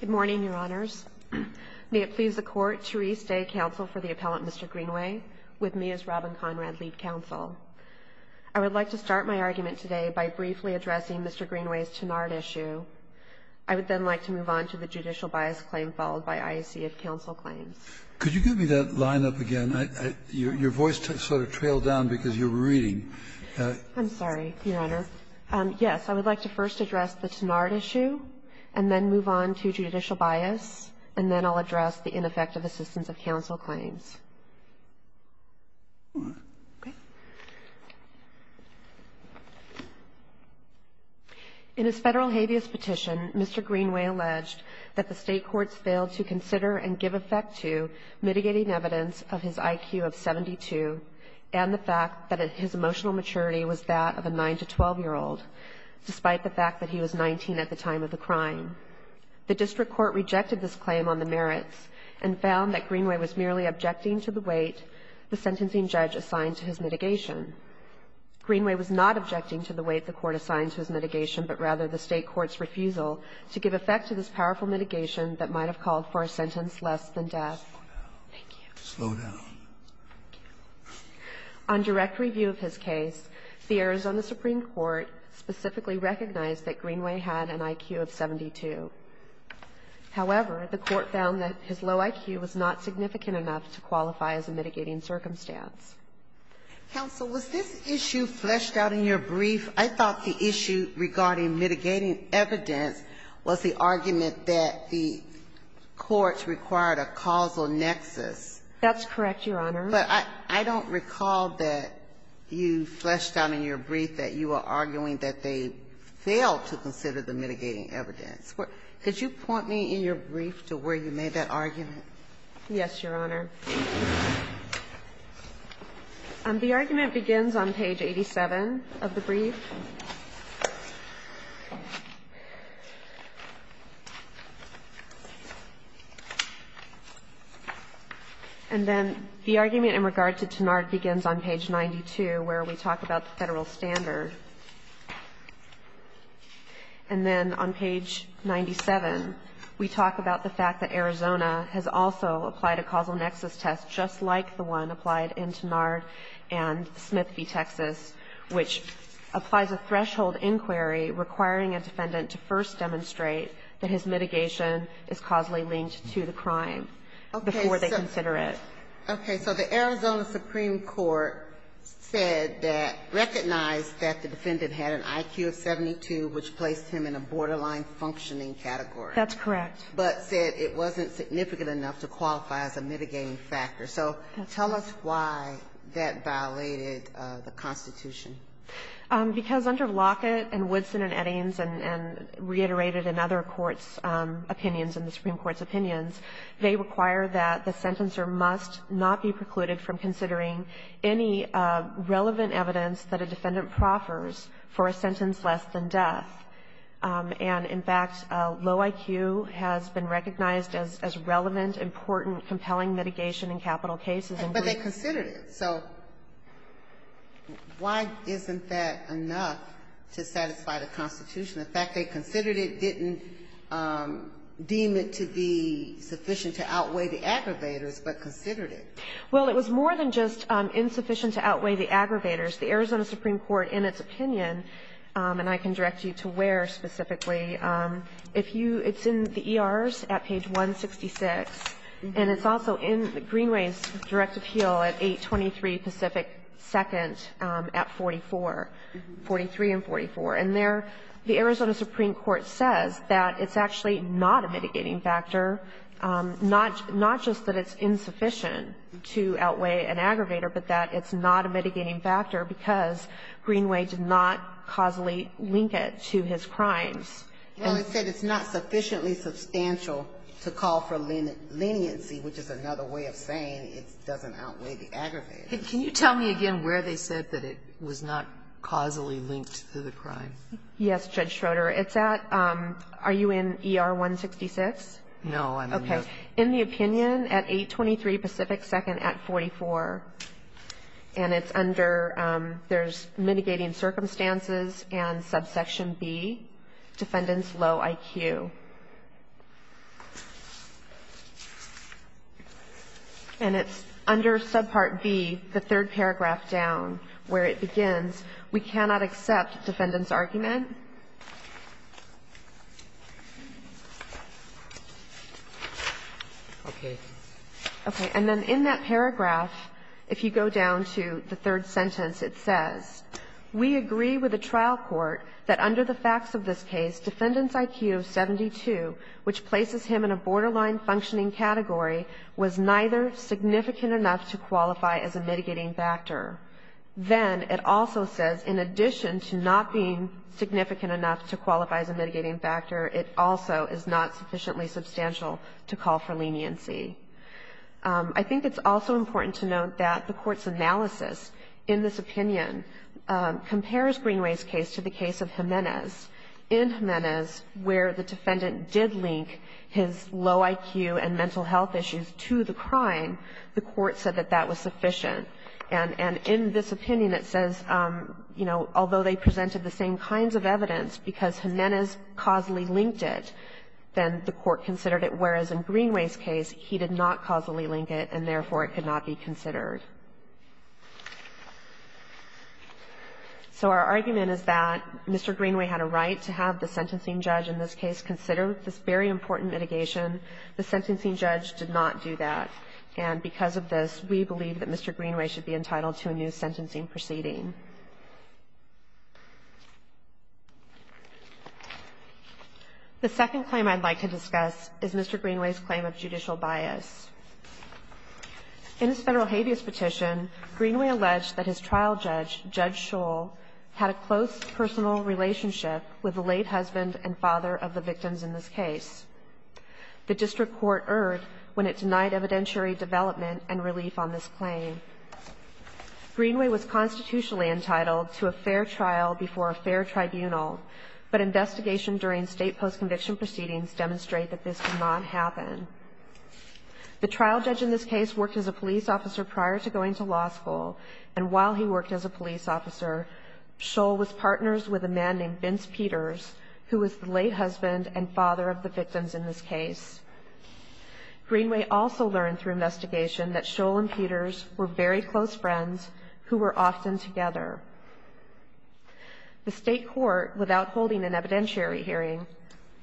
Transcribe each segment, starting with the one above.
Good morning, Your Honors. May it please the Court to restate counsel for the appellant, Mr. Greenway, with me as Robin Conrad, lead counsel. I would like to start my argument today by briefly addressing Mr. Greenway's Tenard issue. I would then like to move on to the judicial bias claim followed by IACF counsel claims. Could you give me that line up again? Your voice sort of trailed down because you were reading. I'm sorry, Your Honor. Yes, I would like to first address the Tenard issue and then move on to judicial bias. And then I'll address the ineffective assistance of counsel claims. In his federal habeas petition, Mr. Greenway alleged that the state courts failed to consider and give effect to mitigating evidence of his IQ of 72 and the fact that his emotional maturity was that of a 9 to 12-year-old, despite the fact that he was 19 at the time of the crime. The district court rejected this claim on the merits and found that Greenway was merely objecting to the weight the sentencing judge assigned to his mitigation. Greenway was not objecting to the weight the court assigned to his mitigation, but rather the state court's refusal to give effect to this powerful mitigation that might have called for a sentence less than death. Thank you. Slow down. Thank you. On direct review of his case, the Arizona Supreme Court specifically recognized that Greenway had an IQ of 72. However, the court found that his low IQ was not significant enough to qualify as a mitigating circumstance. Counsel, was this issue fleshed out in your brief? I thought the issue regarding mitigating evidence was the argument that the courts required a causal nexus. That's correct, Your Honor. But I don't recall that you fleshed out in your brief that you were arguing that they failed to consider the mitigating evidence. Could you point me in your brief to where you made that argument? Yes, Your Honor. The argument begins on page 87 of the brief. And then the argument in regard to Tenard begins on page 92, where we talk about the federal standard. And then on page 97, we talk about the fact that Arizona has also applied a causal nexus test just like the one applied in Tenard and Smith v. Texas, which applies a threshold inquiry requiring a defendant to first demonstrate that his mitigation is causally linked to the crime before they consider it. Okay. So the Arizona Supreme Court said that, recognized that the defendant had an IQ of 72, which placed him in a borderline functioning category. That's correct. But said it wasn't significant enough to qualify as a mitigating factor. So tell us why that violated the Constitution. Because under Lockett and Woodson and Eddings and reiterated in other courts' opinions and the Supreme Court's opinions, they require that the sentencer must not be precluded from considering any relevant evidence that a defendant proffers for a sentence less than death. And, in fact, low IQ has been recognized as relevant, important, compelling mitigation in capital cases. But they considered it. So why isn't that enough to satisfy the Constitution? In fact, they considered it, didn't deem it to be sufficient to outweigh the aggravators, but considered it. Well, it was more than just insufficient to outweigh the aggravators. The Arizona Supreme Court, in its opinion, and I can direct you to where specifically, if you ‑‑ it's in the ERs at page 166, and it's also in Greenway's directive heel at 823 Pacific 2nd at 44, 43 and 44. And there the Arizona Supreme Court says that it's actually not a mitigating factor, not just that it's insufficient to outweigh an aggravator, but that it's not a mitigating factor because Greenway did not causally link it to his crimes. Well, it said it's not sufficiently substantial to call for leniency, which is another way of saying it doesn't outweigh the aggravators. Can you tell me again where they said that it was not causally linked to the crime? Yes, Judge Schroeder. It's at ‑‑ are you in ER 166? No. Okay. Okay. In the opinion at 823 Pacific 2nd at 44, and it's under ‑‑ there's mitigating circumstances and subsection B, defendant's low IQ. And it's under subpart B, the third paragraph down, where it begins, we cannot accept defendant's argument. Okay. Okay. And then in that paragraph, if you go down to the third sentence, it says, we agree with the trial court that under the facts of this case, defendant's IQ of 72, which places him in a borderline functioning category, was neither significant enough to qualify as a mitigating factor. Then it also says in addition to not being significant enough to qualify as a mitigating factor, it also is not sufficiently substantial to call for leniency. I think it's also important to note that the Court's analysis in this opinion compares Greenway's case to the case of Jimenez. In Jimenez, where the defendant did link his low IQ and mental health issues to the crime, the Court said that that was sufficient. And in this opinion, it says, you know, although they presented the same kinds of evidence because Jimenez causally linked it, then the Court considered it, whereas in Greenway's case he did not causally link it, and therefore it could not be considered. So our argument is that Mr. Greenway had a right to have the sentencing judge in this case consider this very important mitigation. The sentencing judge did not do that. And because of this, we believe that Mr. Greenway should be entitled to a new sentencing proceeding. The second claim I'd like to discuss is Mr. Greenway's claim of judicial bias. In his Federal habeas petition, Greenway alleged that his trial judge, Judge Scholl, had a close personal relationship with the late husband and father of the victims in this case. The district court erred when it denied evidentiary development and relief on this claim. Greenway was constitutionally entitled to a fair trial before a fair tribunal, but investigation during state post-conviction proceedings demonstrate that this did not happen. The trial judge in this case worked as a police officer prior to going to law school, and while he worked as a police officer, Scholl was partners with a man named Vince Peters, who was the late husband and father of the victims in this case. Greenway also learned through investigation that Scholl and Peters were very close friends who were often together. The state court, without holding an evidentiary hearing,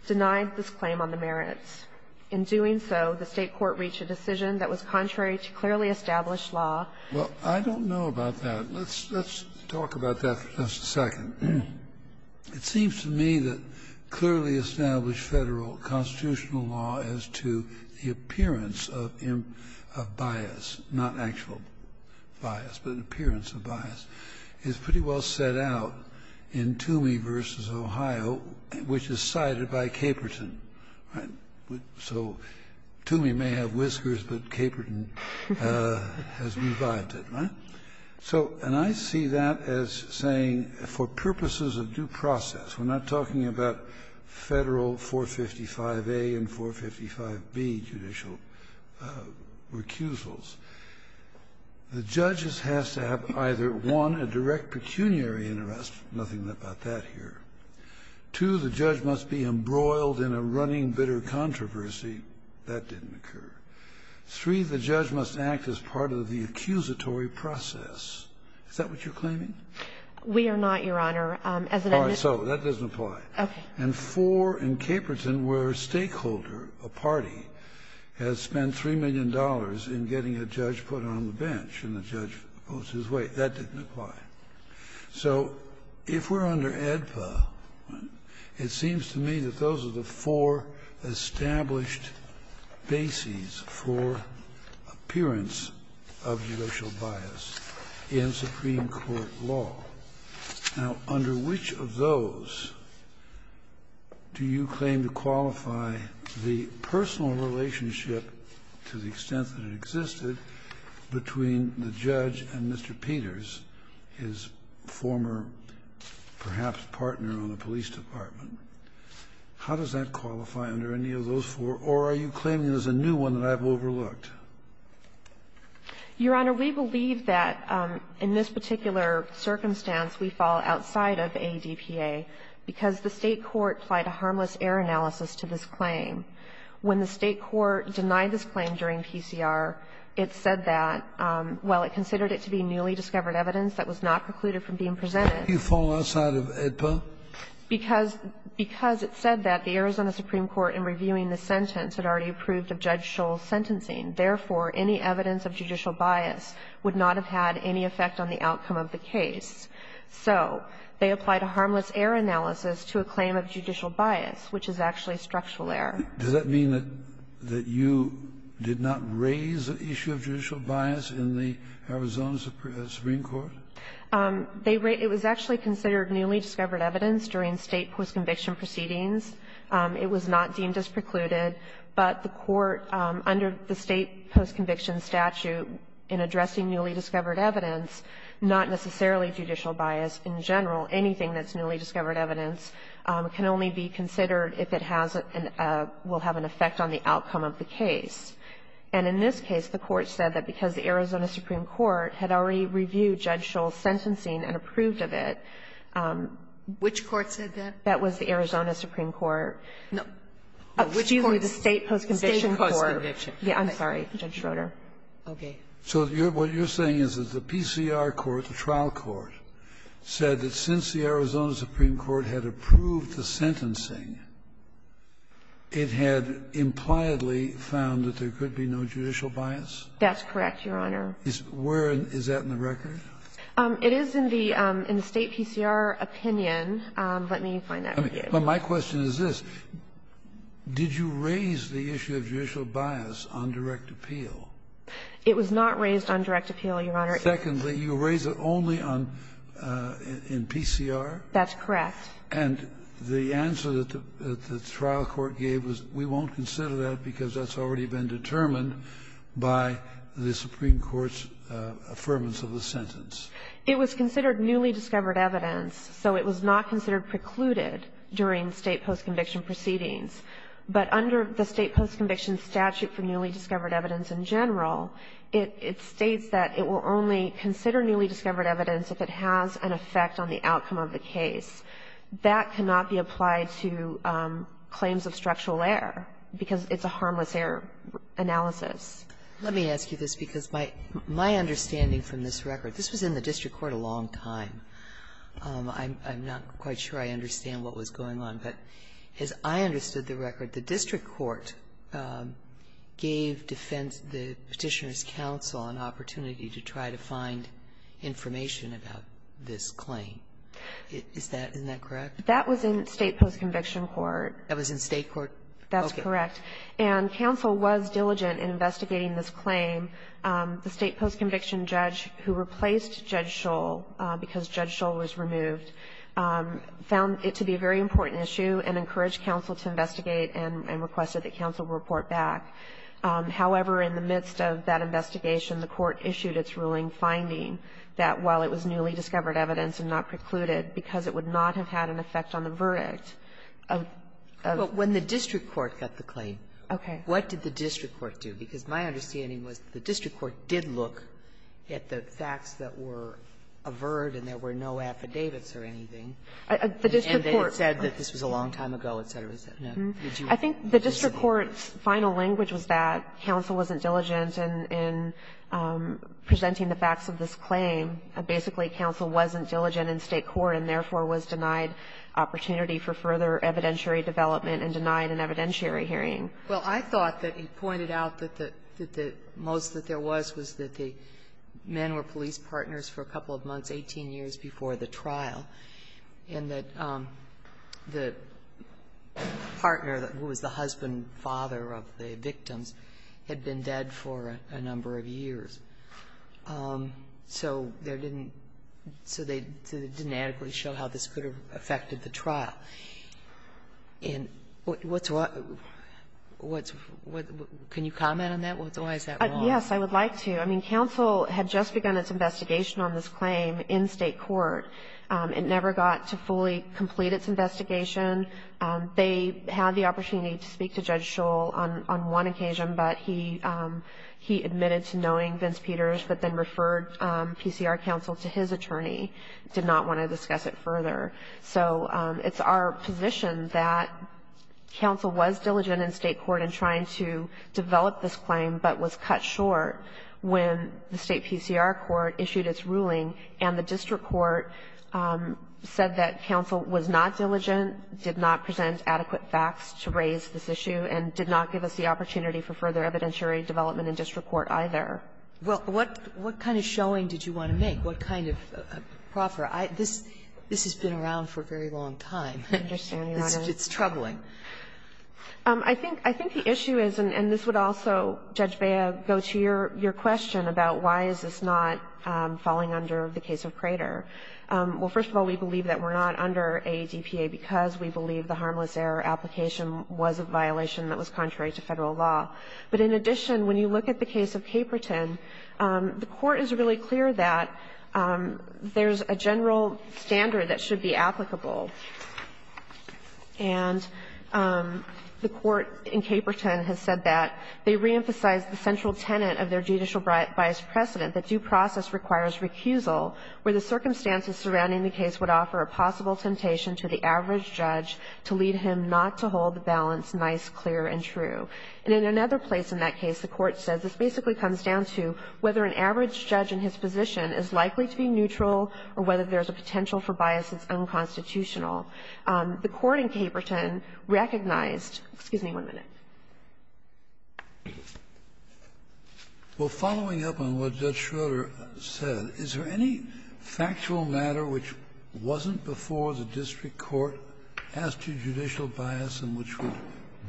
denied this claim on the merits. In doing so, the state court reached a decision that was contrary to clearly established law. Scalia. Well, I don't know about that. Let's talk about that for just a second. It seems to me that clearly established Federal constitutional law as to the appearance of bias, not actual bias, but an appearance of bias, is pretty well set out in Toomey v. Ohio, which is cited by Caperton, right? So Toomey may have whiskers, but Caperton has revived it, right? So, and I see that as saying, for purposes of due process, we're not talking about Federal 455A and 455B judicial recusals. The judge has to have either, one, a direct pecuniary interest. Nothing about that here. Two, the judge must be embroiled in a running bitter controversy. That didn't occur. Three, the judge must act as part of the accusatory process. Is that what you're claiming? We are not, Your Honor. All right. So that doesn't apply. Okay. And four, in Caperton, where a stakeholder, a party, has spent $3 million in getting a judge put on the bench, and the judge goes his way. That didn't apply. So if we're under AEDPA, it seems to me that those are the four established bases for appearance of judicial bias in Supreme Court law. Now, under which of those do you claim to qualify the personal relationship to the extent that it existed between the judge and Mr. Peters, his former, perhaps, partner on the police department? How does that qualify under any of those four? Or are you claiming there's a new one that I've overlooked? Your Honor, we believe that in this particular circumstance we fall outside of AEDPA because the State court applied a harmless error analysis to this claim. When the State court denied this claim during PCR, it said that while it considered it to be newly discovered evidence that was not precluded from being presented. You fall outside of AEDPA? Because it said that the Arizona Supreme Court in reviewing the sentence had already approved of Judge Scholl's sentencing. Therefore, any evidence of judicial bias would not have had any effect on the outcome of the case. So they applied a harmless error analysis to a claim of judicial bias, which is actually a structural error. Does that mean that you did not raise the issue of judicial bias in the Arizona Supreme Court? It was actually considered newly discovered evidence during State post-conviction proceedings. It was not deemed as precluded. But the Court, under the State post-conviction statute, in addressing newly discovered evidence, not necessarily judicial bias in general. Anything that's newly discovered evidence can only be considered if it has and will have an effect on the outcome of the case. And in this case, the Court said that because the Arizona Supreme Court had already reviewed Judge Scholl's sentencing and approved of it. Which court said that? That was the Arizona Supreme Court. Which court? Excuse me, the State post-conviction court. State post-conviction. Yes, I'm sorry, Judge Schroeder. Okay. So what you're saying is that the PCR court, the trial court, said that since the Arizona Supreme Court had approved the sentencing, it had impliedly found that there could be no judicial bias? That's correct, Your Honor. Is where? Is that in the record? It is in the State PCR opinion. Let me find that for you. But my question is this. Did you raise the issue of judicial bias on direct appeal? It was not raised on direct appeal, Your Honor. Secondly, you raised it only on PCR? That's correct. And the answer that the trial court gave was, we won't consider that because that's already been determined by the Supreme Court's affirmance of the sentence. It was considered newly discovered evidence, so it was not considered precluded during State post-conviction proceedings. But under the State post-conviction statute for newly discovered evidence in general, it states that it will only consider newly discovered evidence if it has an effect on the outcome of the case. That cannot be applied to claims of structural error, because it's a harmless error analysis. Let me ask you this, because my understanding from this record, this was in the district court a long time. I'm not quite sure I understand what was going on. But as I understood the record, the district court gave defense the Petitioner's counsel an opportunity to try to find information about this claim. Isn't that correct? That was in State post-conviction court. That was in State court? That's correct. And counsel was diligent in investigating this claim. The State post-conviction judge who replaced Judge Shull, because Judge Shull was removed, found it to be a very important issue and encouraged counsel to investigate and requested that counsel report back. However, in the midst of that investigation, the Court issued its ruling finding that while it was newly discovered evidence and not precluded, because it would not have had an effect on the verdict of the district court. Well, when the district court got the claim, what did the district court do? Because my understanding was the district court did look at the facts that were averred and there were no affidavits or anything. The district court. And it said that this was a long time ago, et cetera, et cetera. I think the district court's final language was that counsel wasn't diligent in presenting the facts of this claim. Basically, counsel wasn't diligent in State court and, therefore, was denied opportunity for further evidentiary development and denied an evidentiary hearing. Well, I thought that he pointed out that the most that there was was that the men were police partners for a couple of months, 18 years before the trial, and that the partner who was the husband and father of the victims had been dead for a number of years. So there didn't so they didn't adequately show how this could have affected the trial. And what's why – can you comment on that? Why is that wrong? Yes, I would like to. I mean, counsel had just begun its investigation on this claim in State court. It never got to fully complete its investigation. They had the opportunity to speak to Judge Scholl on one occasion, but he admitted to knowing Vince Peters, but then referred PCR counsel to his attorney, did not want to discuss it further. So it's our position that counsel was diligent in State court in trying to develop this claim, but was cut short when the State PCR court issued its ruling, and the district court said that counsel was not diligent, did not present adequate facts to raise this issue, and did not give us the opportunity for further evidentiary development in district court either. Well, what kind of showing did you want to make? What kind of proffer? This has been around for a very long time. I understand, Your Honor. It's troubling. I think the issue is, and this would also, Judge Bea, go to your question about why is this not falling under the case of Crater. Well, first of all, we believe that we're not under a DPA because we believe the harmless error application was a violation that was contrary to Federal law. But in addition, when you look at the case of Caperton, the Court is really clear that there's a general standard that should be applicable. And the Court in Caperton has said that they reemphasized the central tenet of their judicial bias precedent, that due process requires recusal where the circumstances surrounding the case would offer a possible temptation to the average judge to lead him not to hold the balance nice, clear, and true. And in another place in that case, the Court says this basically comes down to whether an average judge in his position is likely to be neutral or whether there's a potential for bias that's unconstitutional. The Court in Caperton recognized – excuse me one minute. Well, following up on what Judge Schroeder said, is there any factual matter which wasn't before the district court as to judicial bias and which would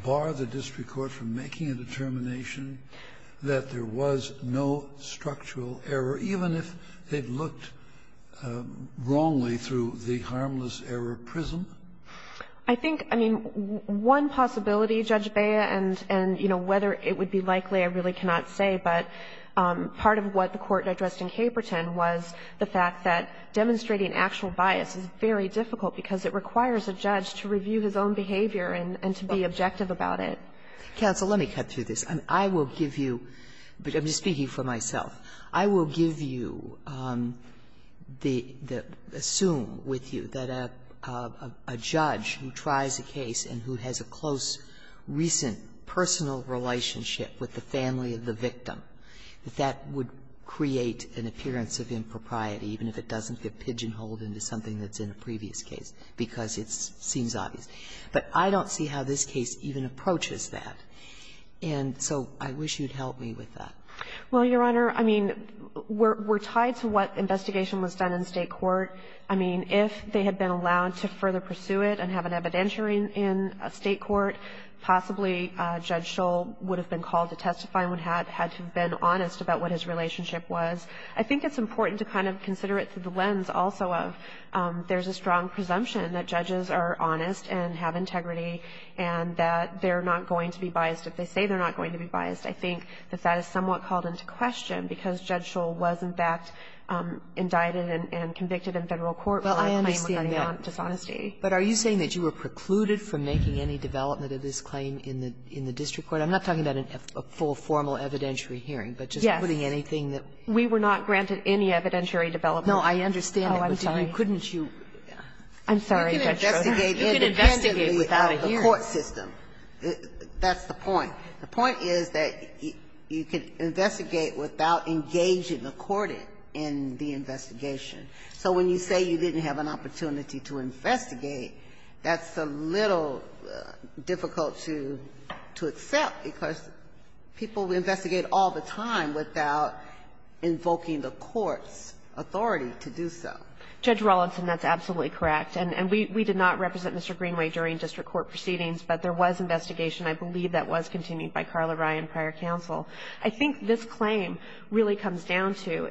bar the district court from making a determination that there was no structural error, even if they looked wrongly through the harmless error prism? I think, I mean, one possibility, Judge Beyer, and, you know, whether it would be likely, I really cannot say, but part of what the Court addressed in Caperton was the fact that demonstrating actual bias is very difficult because it requires a judge to review his own behavior and to be objective about it. Counsel, let me cut through this. I will give you – I'm just speaking for myself. I will give you the – assume with you that a judge who tries a case and who has a close, recent, personal relationship with the family of the victim, that that would create an appearance of impropriety, even if it doesn't get pigeon-holed into something that's in a previous case, because it seems obvious. But I don't see how this case even approaches that, and so I wish you'd help me with that. Well, Your Honor, I mean, we're tied to what investigation was done in State court. I mean, if they had been allowed to further pursue it and have an evidentiary in State court, possibly Judge Scholl would have been called to testify and would have had to have been honest about what his relationship was. I think it's important to kind of consider it through the lens also of there's a strong presumption that judges are honest and have integrity and that they're not going to be biased. If they say they're not going to be biased, I think that that is somewhat called into question because Judge Scholl was, in fact, indicted and convicted in Federal court for a claim regarding dishonesty. But are you saying that you were precluded from making any development of this claim in the district court? I'm not talking about a full, formal evidentiary hearing, but just putting anything that we were not granted any evidentiary development. No, I understand that, but couldn't you? I'm sorry, Judge Scholl. You can investigate independently without a court system. That's the point. The point is that you can investigate without engaging the court in the investigation. So when you say you didn't have an opportunity to investigate, that's a little difficult to accept because people investigate all the time without invoking the court's authority to do so. Judge Rawlinson, that's absolutely correct. And we did not represent Mr. Greenway during district court proceedings, but there was investigation. I believe that was continued by Carla Rye in prior counsel. I think this claim really comes down to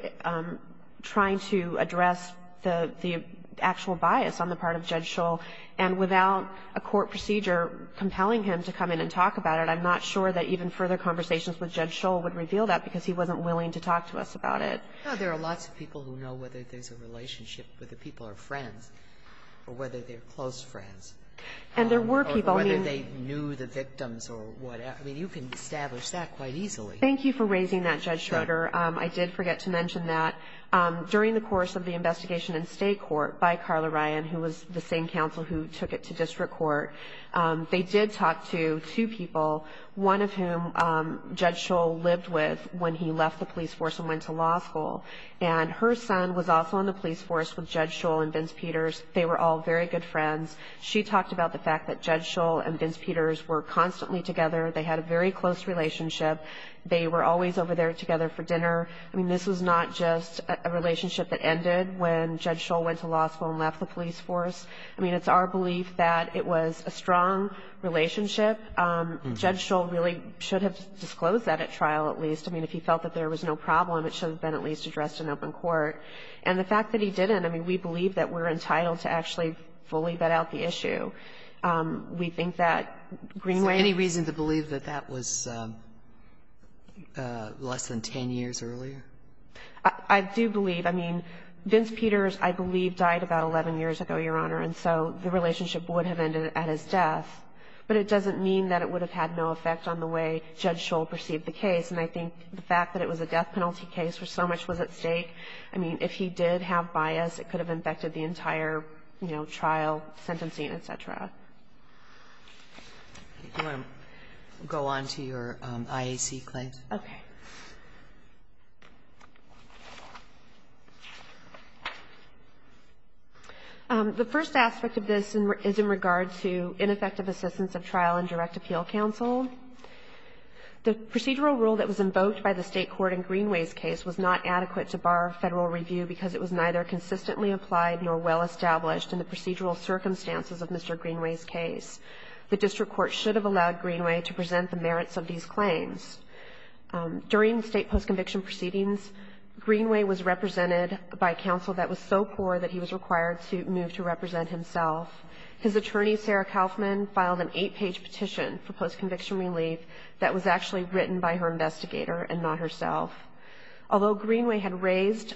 trying to address the actual bias on the part of Judge Scholl, and without a court procedure compelling him to come in and talk about it, I'm not sure that even further conversations with Judge Scholl would reveal that because he wasn't willing to talk to us about it. There are lots of people who know whether there's a relationship, whether people are friends, or whether they're close friends. And there were people, I mean you can establish that quite easily. Thank you for raising that, Judge Schroeder. I did forget to mention that during the course of the investigation in state court by Carla Rye, who was the same counsel who took it to district court, they did talk to two people, one of whom Judge Scholl lived with when he left the police force and went to law school. And her son was also in the police force with Judge Scholl and Vince Peters. They were all very good friends. She talked about the fact that Judge Scholl and Vince Peters were constantly together. They had a very close relationship. They were always over there together for dinner. I mean, this was not just a relationship that ended when Judge Scholl went to law school and left the police force. I mean, it's our belief that it was a strong relationship. Judge Scholl really should have disclosed that at trial at least. I mean, if he felt that there was no problem, it should have been at least addressed in open court. And the fact that he didn't, I mean, we believe that we're entitled to actually fully vet out the issue. We think that Greenway has to do with it. Do you believe that that was less than 10 years earlier? I do believe. I mean, Vince Peters, I believe, died about 11 years ago, Your Honor. And so the relationship would have ended at his death. But it doesn't mean that it would have had no effect on the way Judge Scholl perceived the case. And I think the fact that it was a death penalty case where so much was at stake, I mean, if he did have bias, it could have infected the entire, you know, trial, sentencing, et cetera. Kagan. Do you want to go on to your IAC claims? Okay. The first aspect of this is in regard to ineffective assistance of trial in direct appeal counsel. The procedural rule that was invoked by the State court in Greenway's case was not adequate to bar Federal review because it was neither consistently applied nor well in Greenway's case. The district court should have allowed Greenway to present the merits of these claims. During state post-conviction proceedings, Greenway was represented by counsel that was so poor that he was required to move to represent himself. His attorney, Sarah Kaufman, filed an eight-page petition for post-conviction relief that was actually written by her investigator and not herself. Although Greenway had raised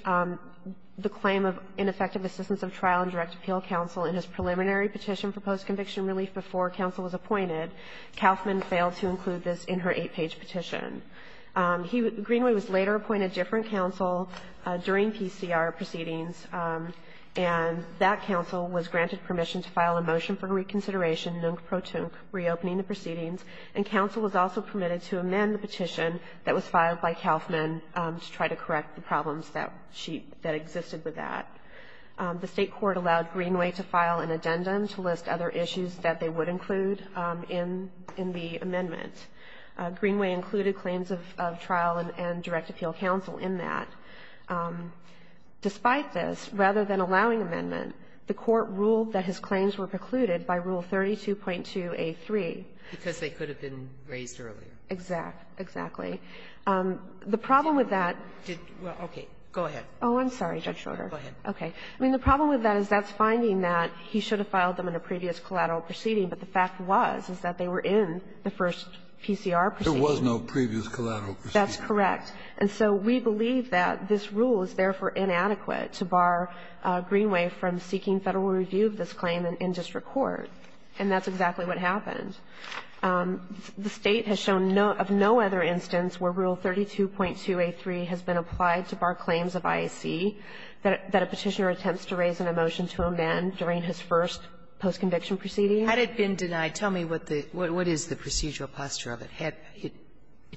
the claim of ineffective assistance of trial in direct conviction relief before counsel was appointed, Kaufman failed to include this in her eight-page petition. Greenway was later appointed different counsel during PCR proceedings, and that counsel was granted permission to file a motion for reconsideration, nunc pro tunc, reopening the proceedings. And counsel was also permitted to amend the petition that was filed by Kaufman to try to correct the problems that existed with that. The State court allowed Greenway to file an addendum to list other issues that they would include in the amendment. Greenway included claims of trial and direct appeal counsel in that. Despite this, rather than allowing amendment, the Court ruled that his claims were precluded by Rule 32.2a3. Sotomayor Because they could have been raised earlier. O'Connell Exactly. The problem with that did go ahead. Oh, I'm sorry, Judge Schroeder. Okay. I mean, the problem with that is that's finding that he should have filed them in a previous collateral proceeding. But the fact was is that they were in the first PCR proceeding. Kennedy There was no previous collateral proceeding. O'Connell That's correct. And so we believe that this rule is, therefore, inadequate to bar Greenway from seeking Federal review of this claim in district court. And that's exactly what happened. The State has shown no other instance where Rule 32.2a3 has been applied to bar claims of IAC that a Petitioner attempts to raise in a motion to amend during his first post-conviction proceeding. Sotomayor Had it been denied? Tell me what the – what is the procedural posture of it? Had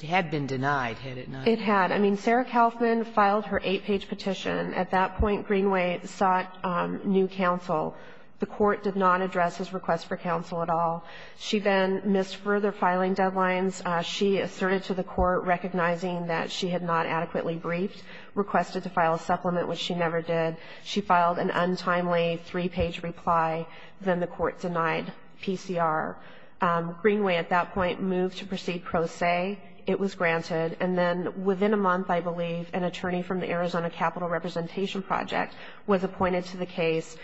it been denied, had it not? O'Connell It had. I mean, Sarah Kaufman filed her 8-page petition. At that point, Greenway sought new counsel. The Court did not address his request for counsel at all. She then missed further filing deadlines. She asserted to the Court, recognizing that she had not adequately briefed, requested to file a supplement, which she never did. She filed an untimely 3-page reply. Then the Court denied PCR. Greenway at that point moved to proceed pro se. It was granted. And then within a month, I believe, an attorney from the Arizona Capital Representation Project was appointed to the case,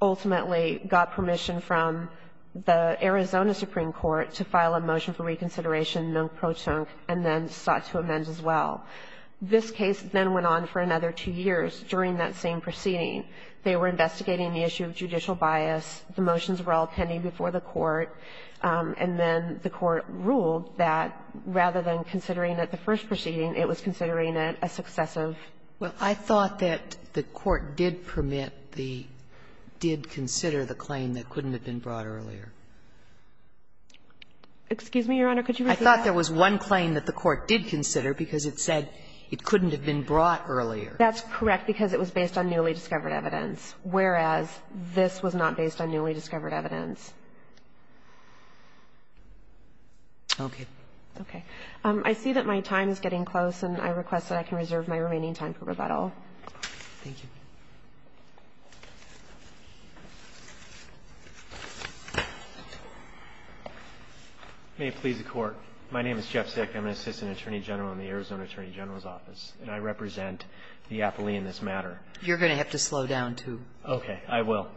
ultimately got permission from the Arizona Supreme Court to file a motion for reconsideration, no pro tunc, and then sought to amend as well. This case then went on for another two years during that same proceeding. They were investigating the issue of judicial bias. The motions were all pending before the Court. And then the Court ruled that rather than considering it the first proceeding, it was considering it a successive. Sotomayor Well, I thought that the Court did permit the – did consider the claim that couldn't have been brought earlier. Greenway Excuse me, Your Honor. Could you repeat that? Sotomayor I thought there was one claim that the Court did consider because it said it couldn't have been brought earlier. Greenway That's correct, because it was based on newly discovered evidence, whereas this was not based on newly discovered evidence. Sotomayor Okay. Greenway Okay. I see that my time is getting close, and I request that I can reserve my remaining time for rebuttal. Sotomayor Thank you. Jeff Zick May it please the Court, my name is Jeff Zick. I'm an assistant attorney general in the Arizona Attorney General's Office, and I represent the athlete in this matter. Sotomayor You're going to have to slow down, too. Jeff Zick Okay. I will.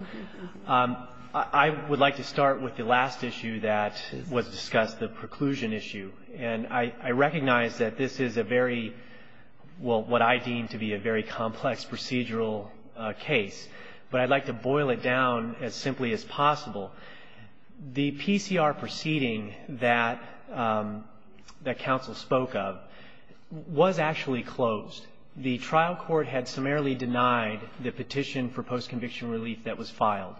I would like to start with the last issue that was discussed, the preclusion issue. And I recognize that this is a very – well, what I deem to be a very complex procedural case, but I'd like to boil it down as simply as possible. The PCR proceeding that counsel spoke of was actually closed. The trial court had summarily denied the petition for post-conviction relief that was filed.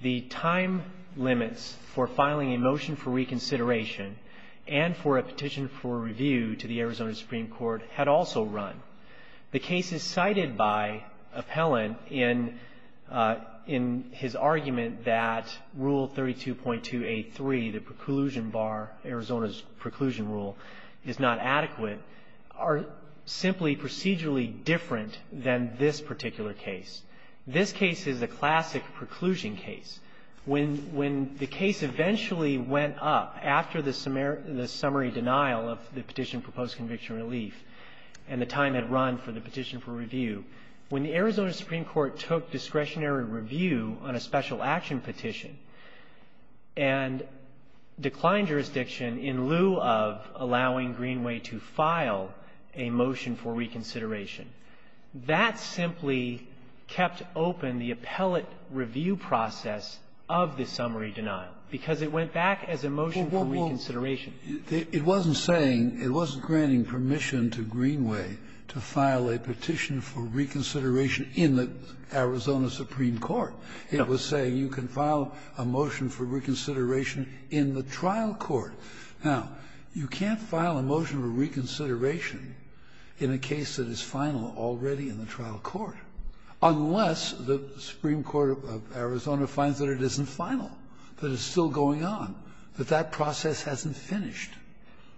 The time limits for filing a motion for reconsideration and for a petition for review to the Arizona Supreme Court had also run. The cases cited by Appellant in his argument that Rule 32.283, the preclusion bar, Arizona's preclusion rule, is not adequate, are simply procedurally different than this particular case. This case is a classic preclusion case. When the case eventually went up after the summary denial of the petition for post-conviction relief and the time had run for the petition for review, when the Arizona Supreme Court took discretionary review on a special action petition and declined jurisdiction in lieu of allowing Greenway to file a motion for reconsideration, that simply kept open the appellate review process of the summary denial, because it went back as a motion for reconsideration. It wasn't saying, it wasn't granting permission to Greenway to file a petition for reconsideration in the Arizona Supreme Court. It was saying you can file a motion for reconsideration in the trial court. Now, you can't file a motion for reconsideration in a case that is final already in the trial court, unless the Supreme Court of Arizona finds that it isn't final, that it's still going on. That that process hasn't finished.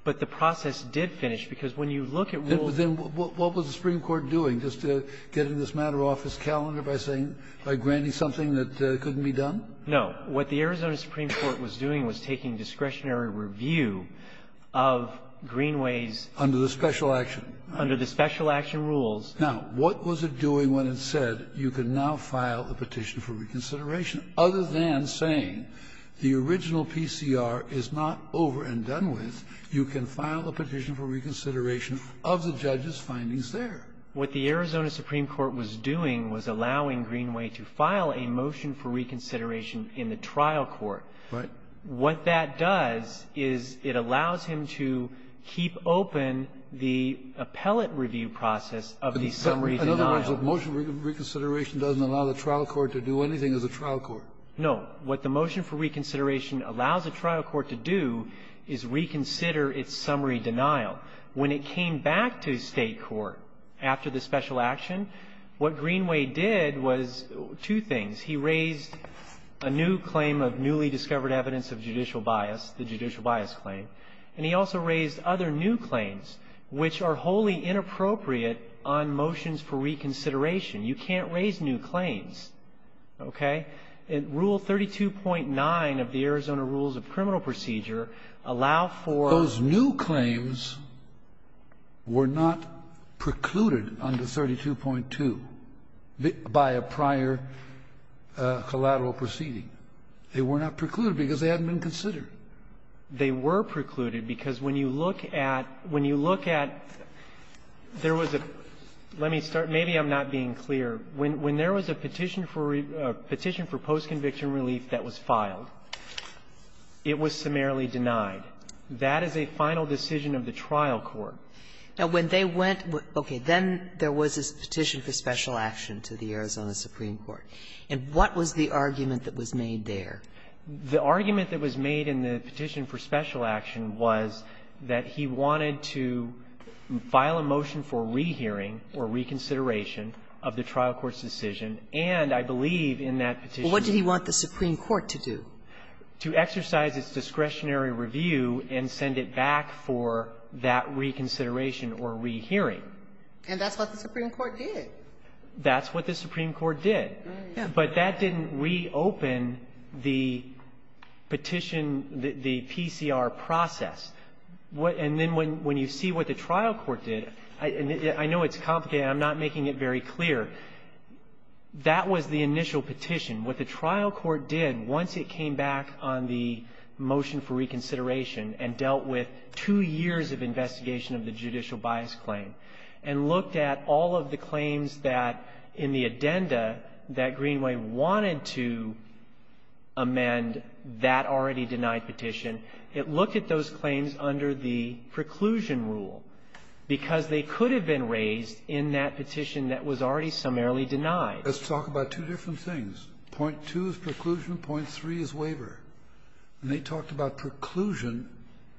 But the process did finish, because when you look at rules of the Supreme Court doing, just getting this matter off its calendar by saying, by granting something that couldn't be done? No. What the Arizona Supreme Court was doing was taking discretionary review of Greenway's Under the special action. Under the special action rules. Now, what was it doing when it said you can now file a petition for reconsideration, other than saying the original PCR is not over and done with, you can file a petition for reconsideration of the judge's findings there? What the Arizona Supreme Court was doing was allowing Greenway to file a motion for reconsideration in the trial court. Right. What that does is it allows him to keep open the appellate review process of the summary denial. In other words, a motion for reconsideration doesn't allow the trial court to do anything as a trial court. No. What the motion for reconsideration allows a trial court to do is reconsider its summary denial. When it came back to State court after the special action, what Greenway did was two things. He raised a new claim of newly discovered evidence of judicial bias, the judicial bias claim. And he also raised other new claims, which are wholly inappropriate on motions for reconsideration. You can't raise new claims. Okay? And Rule 32.9 of the Arizona Rules of Criminal Procedure allow for the new claims were not precluded under 32.2 by a prior collateral proceeding. They were not precluded because they hadn't been considered. They were precluded because when you look at when you look at there was a let me start Maybe I'm not being clear. When there was a petition for post-conviction relief that was filed, it was summarily denied. That is a final decision of the trial court. Now, when they went, okay, then there was this petition for special action to the Arizona Supreme Court. And what was the argument that was made there? The argument that was made in the petition for special action was that he wanted to file a motion for rehearing or reconsideration of the trial court's decision. And I believe in that petition What did he want the Supreme Court to do? To exercise its discretionary review and send it back for that reconsideration or rehearing. And that's what the Supreme Court did. That's what the Supreme Court did. But that didn't reopen the petition, the PCR process. And then when you see what the trial court did, I know it's complicated. I'm not making it very clear. That was the initial petition. What the trial court did once it came back on the motion for reconsideration and dealt with two years of investigation of the judicial bias claim and looked at all of the claims that in the addenda that Greenway wanted to amend that already under the preclusion rule because they could have been raised in that petition that was already summarily denied. Let's talk about two different things. Point two is preclusion. Point three is waiver. And they talked about preclusion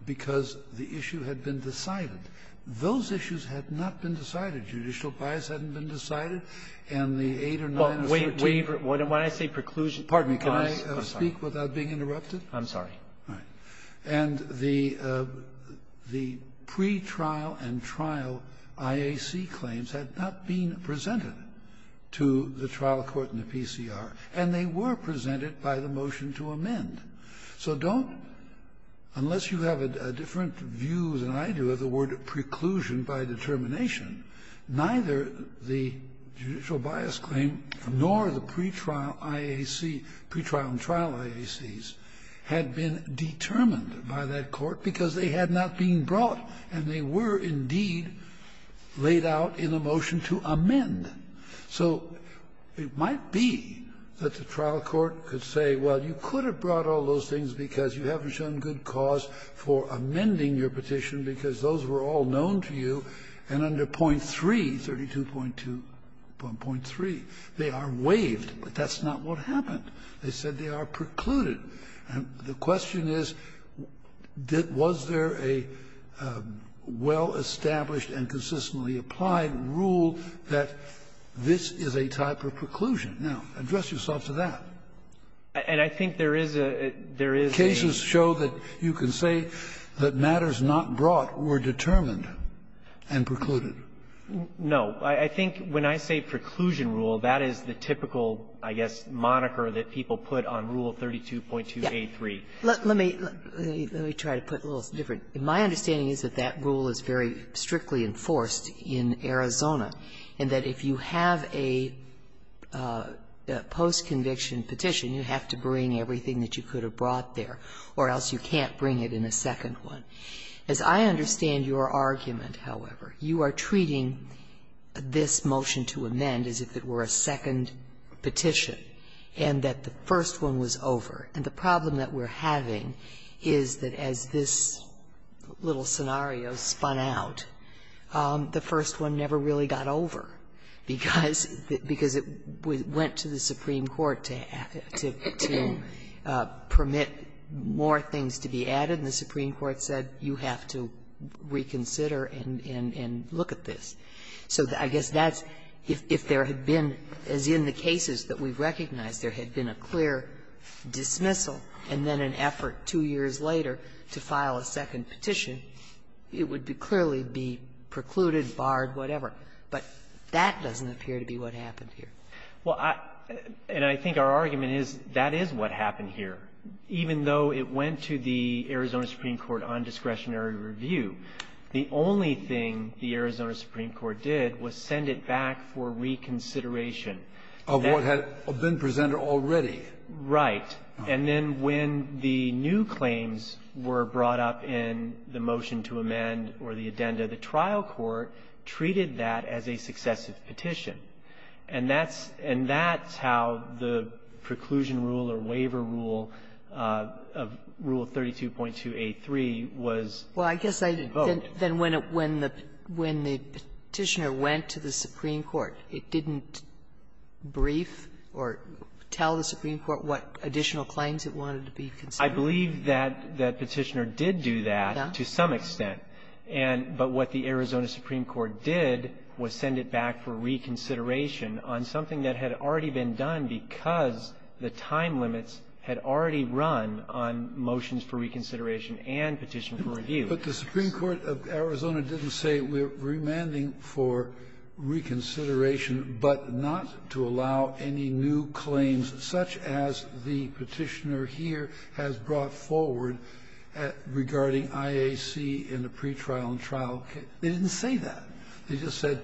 because the issue had been decided. Those issues had not been decided. Judicial bias hadn't been decided. And the eight or nine or two or three or four or five or six or seven or eight or nine When I say preclusion, pardon me, can I speak without being interrupted? I'm sorry. All right. And the pretrial and trial IAC claims had not been presented to the trial court and the PCR, and they were presented by the motion to amend. So don't unless you have a different view than I do of the word preclusion by determination, neither the judicial bias claim nor the pretrial IAC, pretrial and trial IACs had been determined by that court because they had not been brought and they were indeed laid out in the motion to amend. So it might be that the trial court could say, well, you could have brought all those things because you haven't shown good cause for amending your petition because those were all known to you, and under point three, 32.2.3, they are waived. But that's not what happened. They said they are precluded. And the question is, was there a well-established and consistently applied rule that this is a type of preclusion? Now, address yourself to that. And I think there is a — there is a — Cases show that you can say that matters not brought were determined and precluded. No. I think when I say preclusion rule, that is the typical, I guess, moniker that people put on Rule 32.2a3. Let me — let me try to put it a little different. My understanding is that that rule is very strictly enforced in Arizona, and that if you have a post-conviction petition, you have to bring everything that you could have brought there, or else you can't bring it in a second one. As I understand your argument, however, you are treating this motion to amend as if it were a second petition, and that the first one was over. And the problem that we're having is that as this little scenario spun out, the first one never really got over, because it went to the Supreme Court to — to permit more things to be added. And the Supreme Court said, you have to reconsider and — and look at this. So I guess that's — if there had been, as in the cases that we've recognized, there had been a clear dismissal, and then an effort two years later to file a second petition, it would be clearly be precluded, barred, whatever. But that doesn't appear to be what happened here. Well, I — and I think our argument is that is what happened here. Even though it went to the Arizona Supreme Court on discretionary review, the only thing the Arizona Supreme Court did was send it back for reconsideration. Of what had been presented already. Right. And then when the new claims were brought up in the motion to amend or the addenda, the trial court treated that as a successive petition. And that's — and that's how the preclusion rule or waiver rule of Rule 32.283 was invoked. Well, I guess I — then when the — when the Petitioner went to the Supreme Court, it didn't brief or tell the Supreme Court what additional claims it wanted to be considered? I believe that the Petitioner did do that to some extent. And — but what the Arizona Supreme Court did was send it back for reconsideration on something that had already been done because the time limits had already run on motions for reconsideration and petition for review. But the Supreme Court of Arizona didn't say we're remanding for reconsideration but not to allow any new claims, such as the Petitioner here has brought forward regarding IAC in the pretrial and trial case. They didn't say that. They just said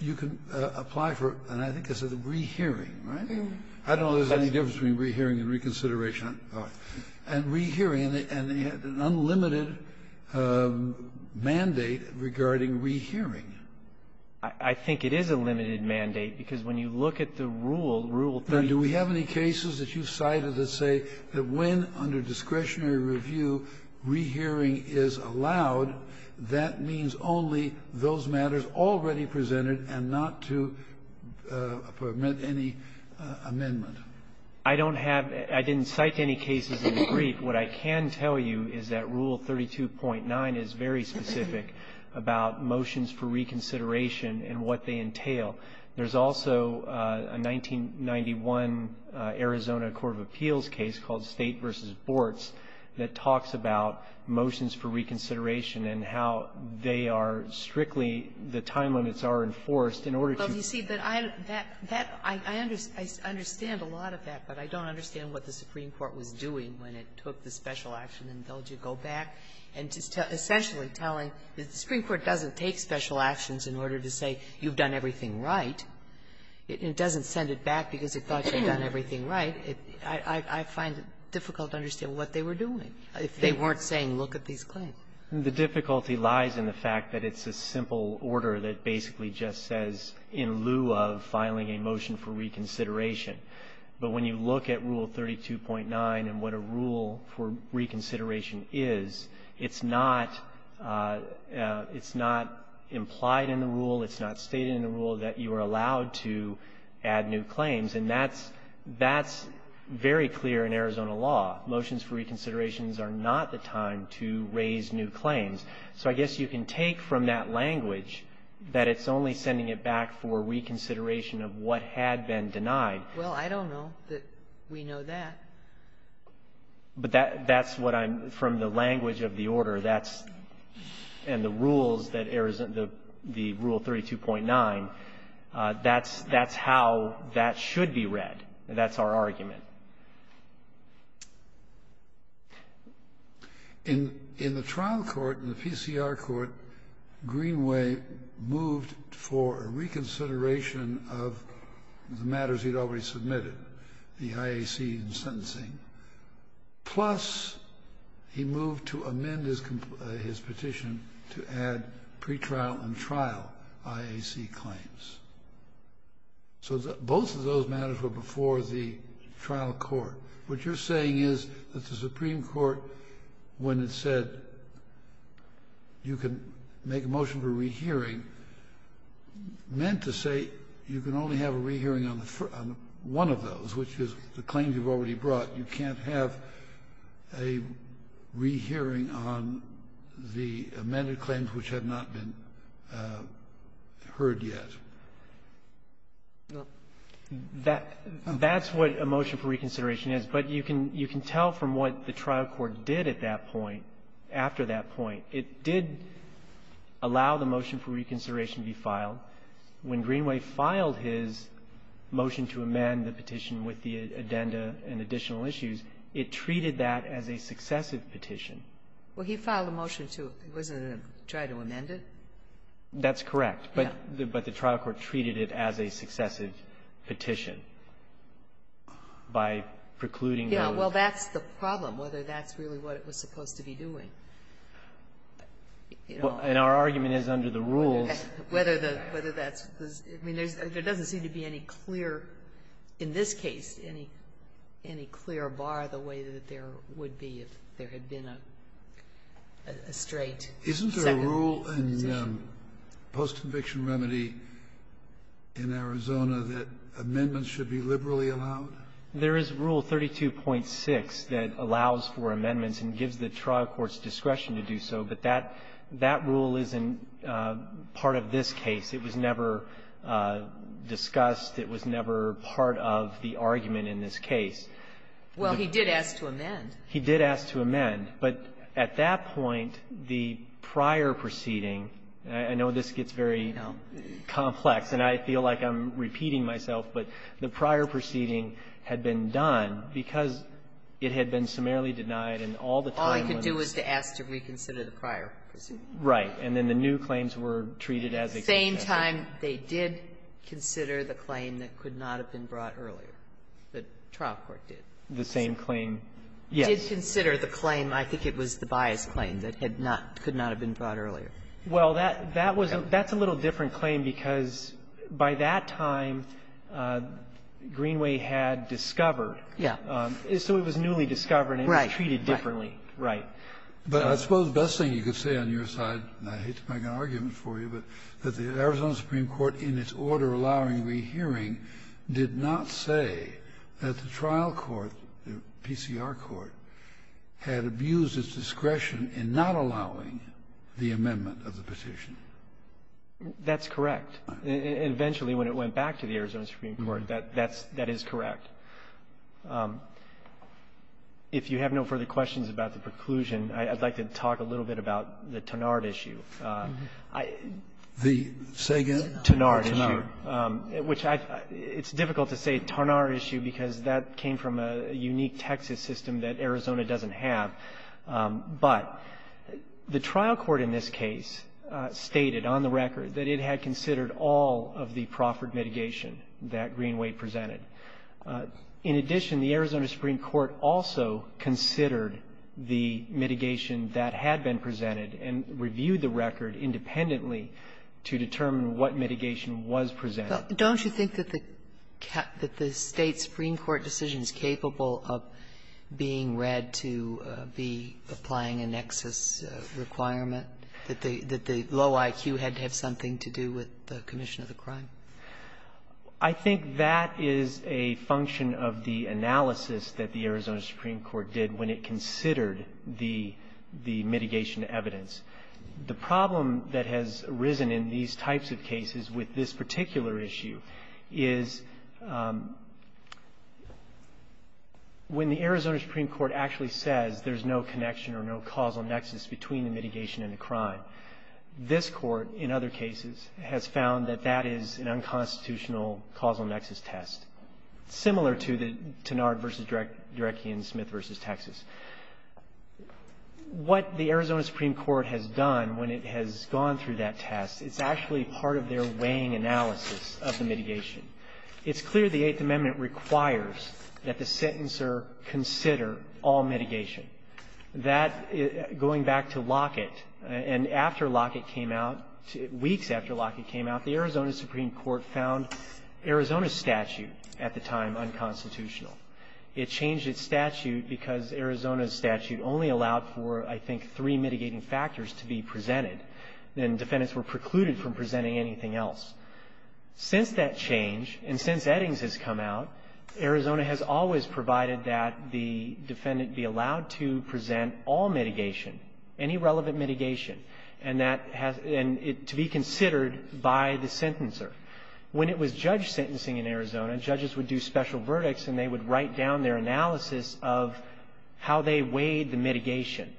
you can apply for, and I think they said, the rehearing, right? I don't know if there's any difference between rehearing and reconsideration. And rehearing, and they had an unlimited mandate regarding rehearing. I think it is a limited mandate because when you look at the rule, Rule 32. And do we have any cases that you've cited that say that when, under discretionary review, rehearing is allowed, that means only those matters already presented and not to permit any amendment? I don't have — I didn't cite any cases in the brief. What I can tell you is that Rule 32.9 is very specific about motions for reconsideration and what they entail. There's also a 1991 Arizona court of appeals case called State v. Bortz that talks about motions for reconsideration and how they are strictly — the time limits are enforced in order to — Sotomayor, you see, but I — that — I understand a lot of that, but I don't understand what the Supreme Court was doing when it took the special action and told you go back and just essentially telling that the Supreme Court doesn't take special actions in order to say you've done everything right. It doesn't send it back because it thought you'd done everything right. I find it difficult to understand what they were doing if they weren't saying look at these claims. The difficulty lies in the fact that it's a simple order that basically just says in lieu of filing a motion for reconsideration. But when you look at Rule 32.9 and what a rule for reconsideration is, it's not — it's not implied in the rule. It's not stated in the rule that you are allowed to add new claims. And that's — that's very clear in Arizona law. Motions for reconsiderations are not the time to raise new claims. So I guess you can take from that language that it's only sending it back for reconsideration of what had been denied. Well, I don't know that we know that. But that's what I'm — from the language of the order, that's — and the rules that Arizona — the Rule 32.9, that's — that's how that should be read. And that's our argument. In the trial court, in the PCR court, Greenway moved for a reconsideration of the matters he'd already submitted, the IAC and sentencing. Plus, he moved to amend his petition to add pretrial and trial IAC claims. So both of those matters were before the trial court. What you're saying is that the Supreme Court, when it said you can make a motion for rehearing, meant to say you can only have a rehearing on the — on one of those, which is the claims you've already brought. You can't have a rehearing on the amended claims which have not been heard yet. That — that's what a motion for reconsideration is. But you can — you can tell from what the trial court did at that point, after that motion for reconsideration be filed, when Greenway filed his motion to amend the petition with the addenda and additional issues, it treated that as a successive petition. Well, he filed a motion to — it wasn't to try to amend it? That's correct. Yeah. But the trial court treated it as a successive petition by precluding those — Yeah, well, that's the problem, whether that's really what it was supposed to be doing. And our argument is under the rules — Whether the — whether that's the — I mean, there doesn't seem to be any clear — in this case, any clear bar the way that there would be if there had been a straight second petition. Isn't there a rule in post-conviction remedy in Arizona that amendments should be liberally allowed? There is Rule 32.6 that allows for amendments and gives the trial court's discretion to do so, but that — that rule isn't part of this case. It was never discussed. It was never part of the argument in this case. Well, he did ask to amend. He did ask to amend. But at that point, the prior proceeding — I know this gets very complex, and I feel like I'm repeating myself, but the prior proceeding had been done because it had been summarily denied and all the time was — All he could do was to ask to reconsider the prior proceeding. Right. And then the new claims were treated as — And at the same time, they did consider the claim that could not have been brought earlier, the trial court did. The same claim, yes. Did consider the claim, I think it was the bias claim, that had not — could not have been brought earlier. Well, that — that was a — that's a little different claim because by that time, Greenway had discovered. Yeah. So it was newly discovered and treated differently. Right. But I suppose the best thing you could say on your side, and I hate to make an argument for you, but that the Arizona Supreme Court, in its order allowing rehearing, did not say that the trial court, the PCR court, had abused its discretion in not allowing the amendment of the petition. That's correct. Eventually, when it went back to the Arizona Supreme Court, that's — that is correct. If you have no further questions about the preclusion, I'd like to talk a little bit about the Tarnard issue. The say again? Tarnard issue, which I — it's difficult to say Tarnard issue because that came from a unique Texas system that Arizona doesn't have. But the trial court in this case stated, on the record, that it had considered all of the proffered mitigation that Greenway presented. In addition, the Arizona Supreme Court also considered the mitigation that had been presented and reviewed the record independently to determine what mitigation was presented. Don't you think that the — that the State supreme court decision is capable of being read to be applying a nexus requirement, that the — that the low IQ had to have something to do with the commission of the crime? I think that is a function of the analysis that the Arizona Supreme Court did when it considered the — the mitigation evidence. The problem that has arisen in these types of cases with this particular issue is when the Arizona Supreme Court actually says there's no connection or no causal nexus between the mitigation and the crime, this court, in other cases, has found that that is an unconstitutional causal nexus test, similar to the Tarnard versus Dereckian-Smith versus Texas. What the Arizona Supreme Court has done when it has gone through that test, it's part of their weighing analysis of the mitigation. It's clear the Eighth Amendment requires that the sentencer consider all mitigation. That — going back to Lockett, and after Lockett came out, weeks after Lockett came out, the Arizona Supreme Court found Arizona's statute at the time unconstitutional. It changed its statute because Arizona's statute only allowed for, I think, three anything else. Since that change, and since Eddings has come out, Arizona has always provided that the defendant be allowed to present all mitigation, any relevant mitigation, and that has — and it — to be considered by the sentencer. When it was judge sentencing in Arizona, judges would do special verdicts and they would write down their analysis of how they weighed the mitigation.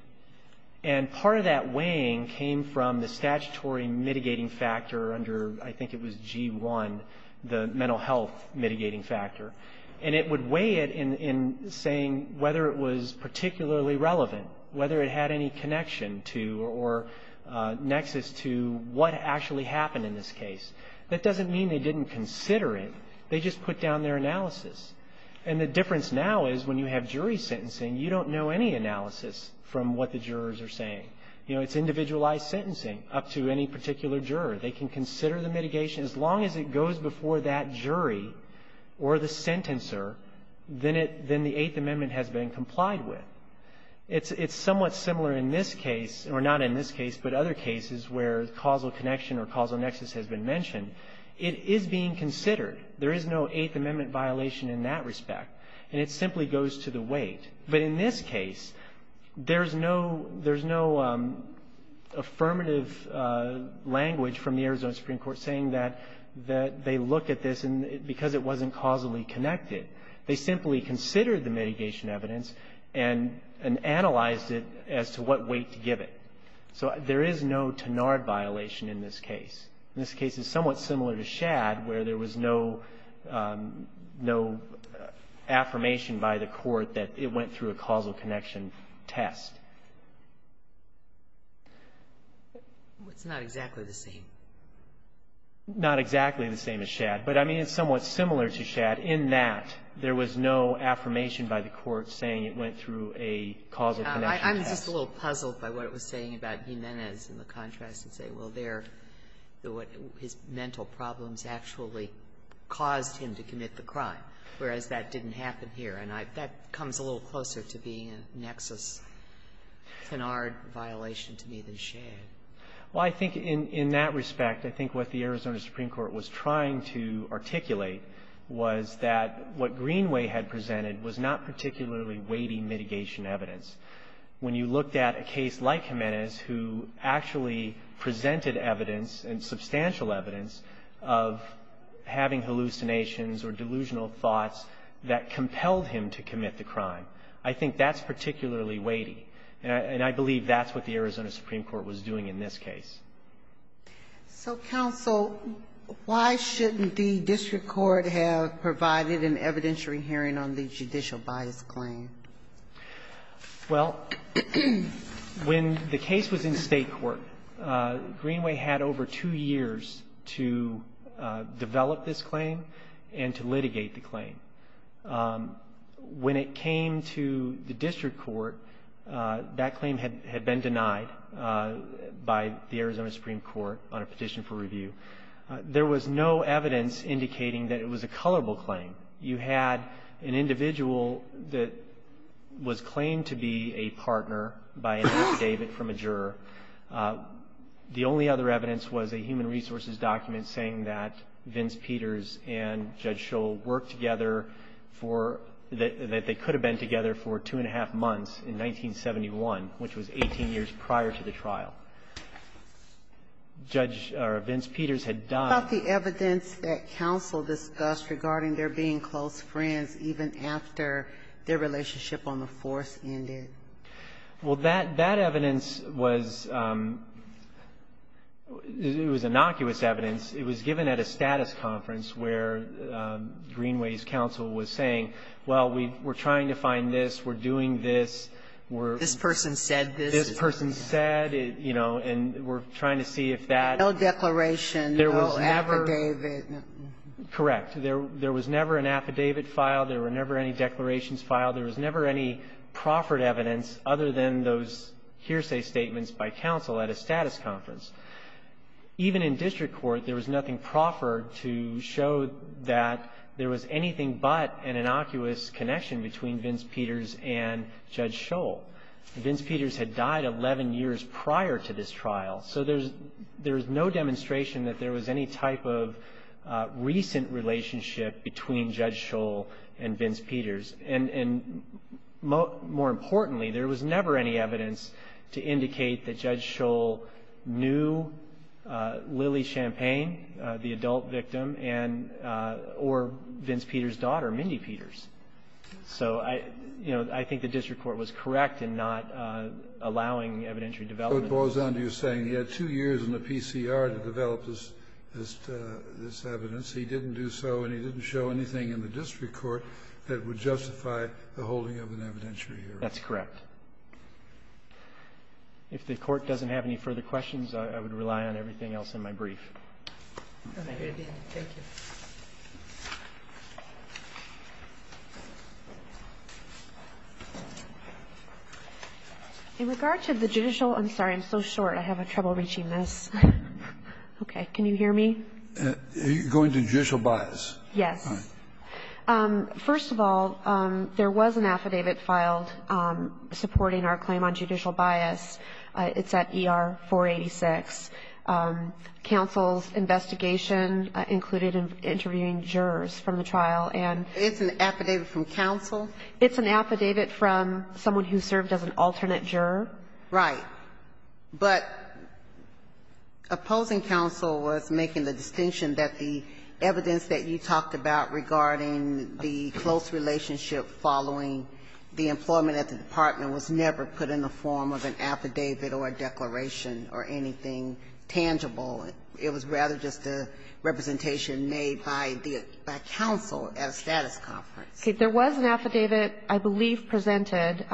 And part of that weighing came from the statutory mitigating factor under, I think it was G-1, the mental health mitigating factor. And it would weigh it in saying whether it was particularly relevant, whether it had any connection to or nexus to what actually happened in this case. That doesn't mean they didn't consider it. They just put down their analysis. And the difference now is when you have jury sentencing, you don't know any analysis from what the jurors are saying. You know, it's individualized sentencing up to any particular juror. They can consider the mitigation. As long as it goes before that jury or the sentencer, then it — then the Eighth Amendment has been complied with. It's somewhat similar in this case — or not in this case, but other cases where causal connection or causal nexus has been mentioned. It is being considered. There is no Eighth Amendment violation in that respect. And it simply goes to the weight. But in this case, there's no — there's no affirmative language from the Arizona Supreme Court saying that they look at this because it wasn't causally connected. They simply considered the mitigation evidence and analyzed it as to what weight to give it. So there is no Tenard violation in this case. In this case, it's somewhat similar to Shad, where there was no — no affirmation by the court that it went through a causal connection test. GOTTLIEB It's not exactly the same. MR. CLEMENT Not exactly the same as Shad. But, I mean, it's somewhat similar to Shad in that there was no affirmation by the court saying it went through a causal connection test. MS. GOTTLIEB I'm just a little puzzled by what it was saying about Jimenez in the contrast and say, well, their — his mental problems actually caused him to commit the crime, whereas that didn't happen here. That comes a little closer to being a nexus Tenard violation to me than Shad. CLEMENT Well, I think in that respect, I think what the Arizona Supreme Court was trying to articulate was that what Greenway had presented was not particularly weighty mitigation evidence. When you looked at a case like Jimenez, who actually presented evidence and substantial evidence of having hallucinations or delusional thoughts that compelled him to commit the crime, I think that's particularly weighty. And I believe that's what the Arizona Supreme Court was doing in this case. MS. GOTTLIEB So, counsel, why shouldn't the district court have provided an evidentiary hearing on the judicial bias claim? MR. CLEMENT Well, when the case was in state court, Greenway had over two years to develop this claim and to litigate the claim. When it came to the district court, that claim had been denied by the Arizona Supreme Court on a petition for review. There was no evidence indicating that it was a colorable claim. You had an individual that was claimed to be a partner by an affidavit from a juror. The only other evidence was a human resources document saying that Vince Peters and Judge Shull worked together for – that they could have been together for two and a half months in 1971, which was 18 years prior to the trial. Judge – or Vince Peters had done – MS. GOTTLIEB What about the evidence that counsel discussed regarding their being close friends even after their relationship on the force ended? MR. CLEMENT It was – it was innocuous evidence. It was given at a status conference where Greenway's counsel was saying, well, we're trying to find this. We're – GOTTLIEB This person said this. MR. CLEMENT This person said, you know, and we're trying to see if that – MS. GOTTLIEB No declaration, no affidavit. MR. CLEMENT Correct. There was never an affidavit filed. There were never any declarations filed. There was never any proffered evidence other than those hearsay statements by counsel at a status conference. Even in district court, there was nothing proffered to show that there was anything but an innocuous connection between Vince Peters and Judge Shull. Vince Peters had died 11 years prior to this trial. So there's – there's no demonstration that there was any type of recent relationship between Judge Shull and Vince Peters. And – and more importantly, there was never any evidence to indicate that Judge Shull knew Lily Champagne, the adult victim, and – or Vince Peters' daughter, Mindy Peters. So I – you know, I think the district court was correct in not allowing evidentiary development. KENNEDY So it boils down to you saying he had two years in the PCR to develop this evidence. He didn't do so, and he didn't show anything in the district court that would justify the holding of an evidentiary hearing. CLEMENT That's correct. If the Court doesn't have any further questions, I would rely on everything else in my brief. MS. GOTTLIEB Thank you again. Thank you. MS. GOTTLIEB In regard to the judicial – I'm sorry, I'm so short. I have trouble reaching this. Okay. Can you hear me? Are you going to judicial bias? MS. GOTTLIEB Yes. First of all, there was an affidavit filed supporting our claim on judicial bias. It's at ER 486. Counsel's investigation included interviewing jurors from the trial, and – MS. GOTTLIEB It's an affidavit from counsel? MS. GOTTLIEB It's an affidavit from someone who served as an alternate juror. MS. GOTTLIEB Right. But opposing counsel was making the distinction that the evidence that you talked about regarding the close relationship following the employment at the department was never put in the form of an affidavit or a declaration or anything tangible. It was rather just a representation made by counsel at a status conference. MS. GOTTLIEB Okay. There was an affidavit, I believe, presented.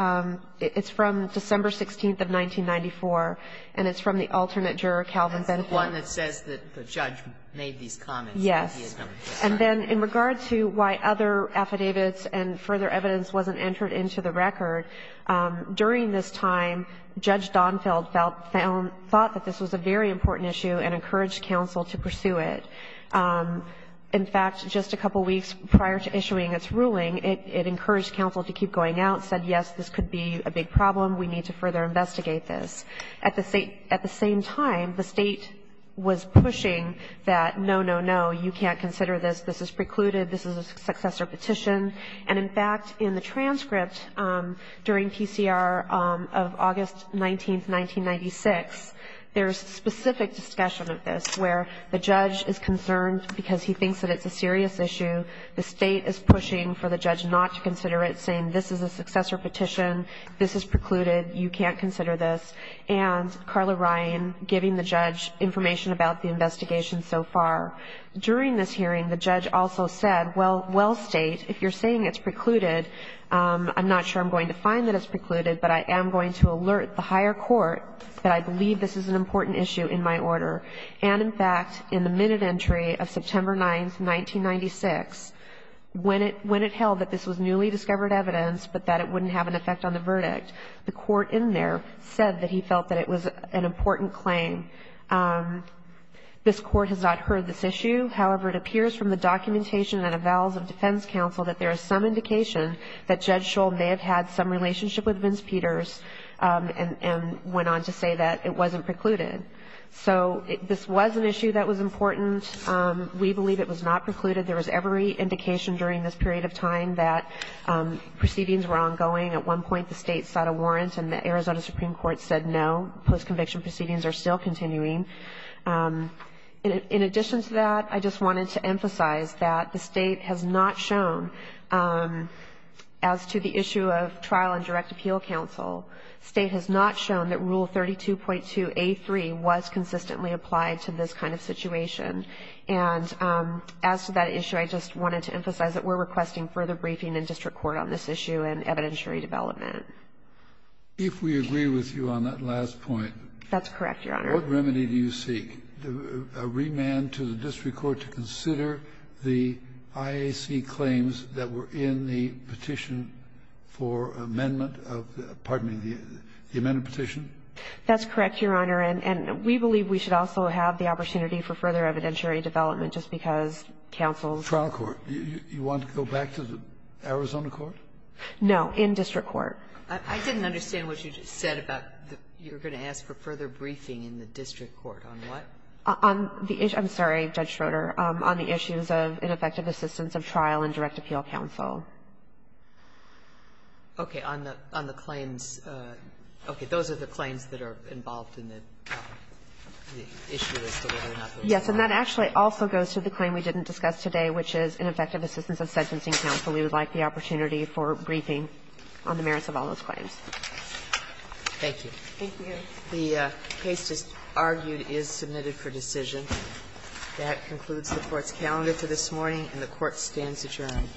It's from December 16th of 1994. And it's from the alternate juror, Calvin Benefit. MS. GOTTLIEB That's the one that says that the judge made these comments. GOTTLIEB Yes. MS. GOTTLIEB And then in regard to why other affidavits and further evidence wasn't entered into the record, during this time, Judge Donfeld felt – thought that this was a very important issue and encouraged counsel to pursue it. In fact, just a couple weeks prior to issuing its ruling, it encouraged counsel to keep going out, said, yes, this could be a big problem, we need to further investigate this. At the same time, the State was pushing that, no, no, no, you can't consider this, this is precluded, this is a successor petition. And in fact, in the transcript during PCR of August 19th, 1996, there's a specific discussion of this where the judge is concerned because he thinks that it's a serious issue. The State is pushing for the judge not to consider it, saying this is a successor petition, this is precluded, you can't consider this. And Carla Ryan giving the judge information about the investigation so far. During this hearing, the judge also said, well, well, State, if you're saying it's precluded, I'm not sure I'm going to find that it's precluded, but I am going to alert the higher court that I believe this is an important issue in my order. And in fact, in the minute entry of September 9th, 1996, when it held that this was newly discovered evidence but that it wouldn't have an effect on the verdict, the court in there said that he felt that it was an important claim. This Court has not heard this issue. However, it appears from the documentation that avowals of defense counsel that there is some indication that Judge Shull may have had some relationship with Vince Peters and went on to say that it wasn't precluded. So this was an issue that was important. We believe it was not precluded. There was every indication during this period of time that proceedings were ongoing. At one point, the State sought a warrant and the Arizona Supreme Court said no. Post-conviction proceedings are still continuing. In addition to that, I just wanted to emphasize that the State has not shown, as to the issue of trial and direct appeal counsel, the State has not shown that was consistently applied to this kind of situation. And as to that issue, I just wanted to emphasize that we're requesting further briefing in district court on this issue and evidentiary development. If we agree with you on that last point. That's correct, Your Honor. What remedy do you seek? A remand to the district court to consider the IAC claims that were in the petition for amendment of, pardon me, the amended petition? That's correct, Your Honor. And we believe we should also have the opportunity for further evidentiary development just because counsel's. Trial court. You want to go back to the Arizona court? No. In district court. I didn't understand what you just said about you're going to ask for further briefing in the district court on what? On the issue. I'm sorry, Judge Schroeder. On the issues of ineffective assistance of trial and direct appeal counsel. Okay. On the claims. Okay. Those are the claims that are involved in the issue that's delivered. Yes. And that actually also goes to the claim we didn't discuss today, which is ineffective assistance of sentencing counsel. We would like the opportunity for briefing on the merits of all those claims. Thank you. Thank you, Your Honor. The case just argued is submitted for decision. That concludes the Court's calendar for this morning, and the Court stands adjourned. Thank you.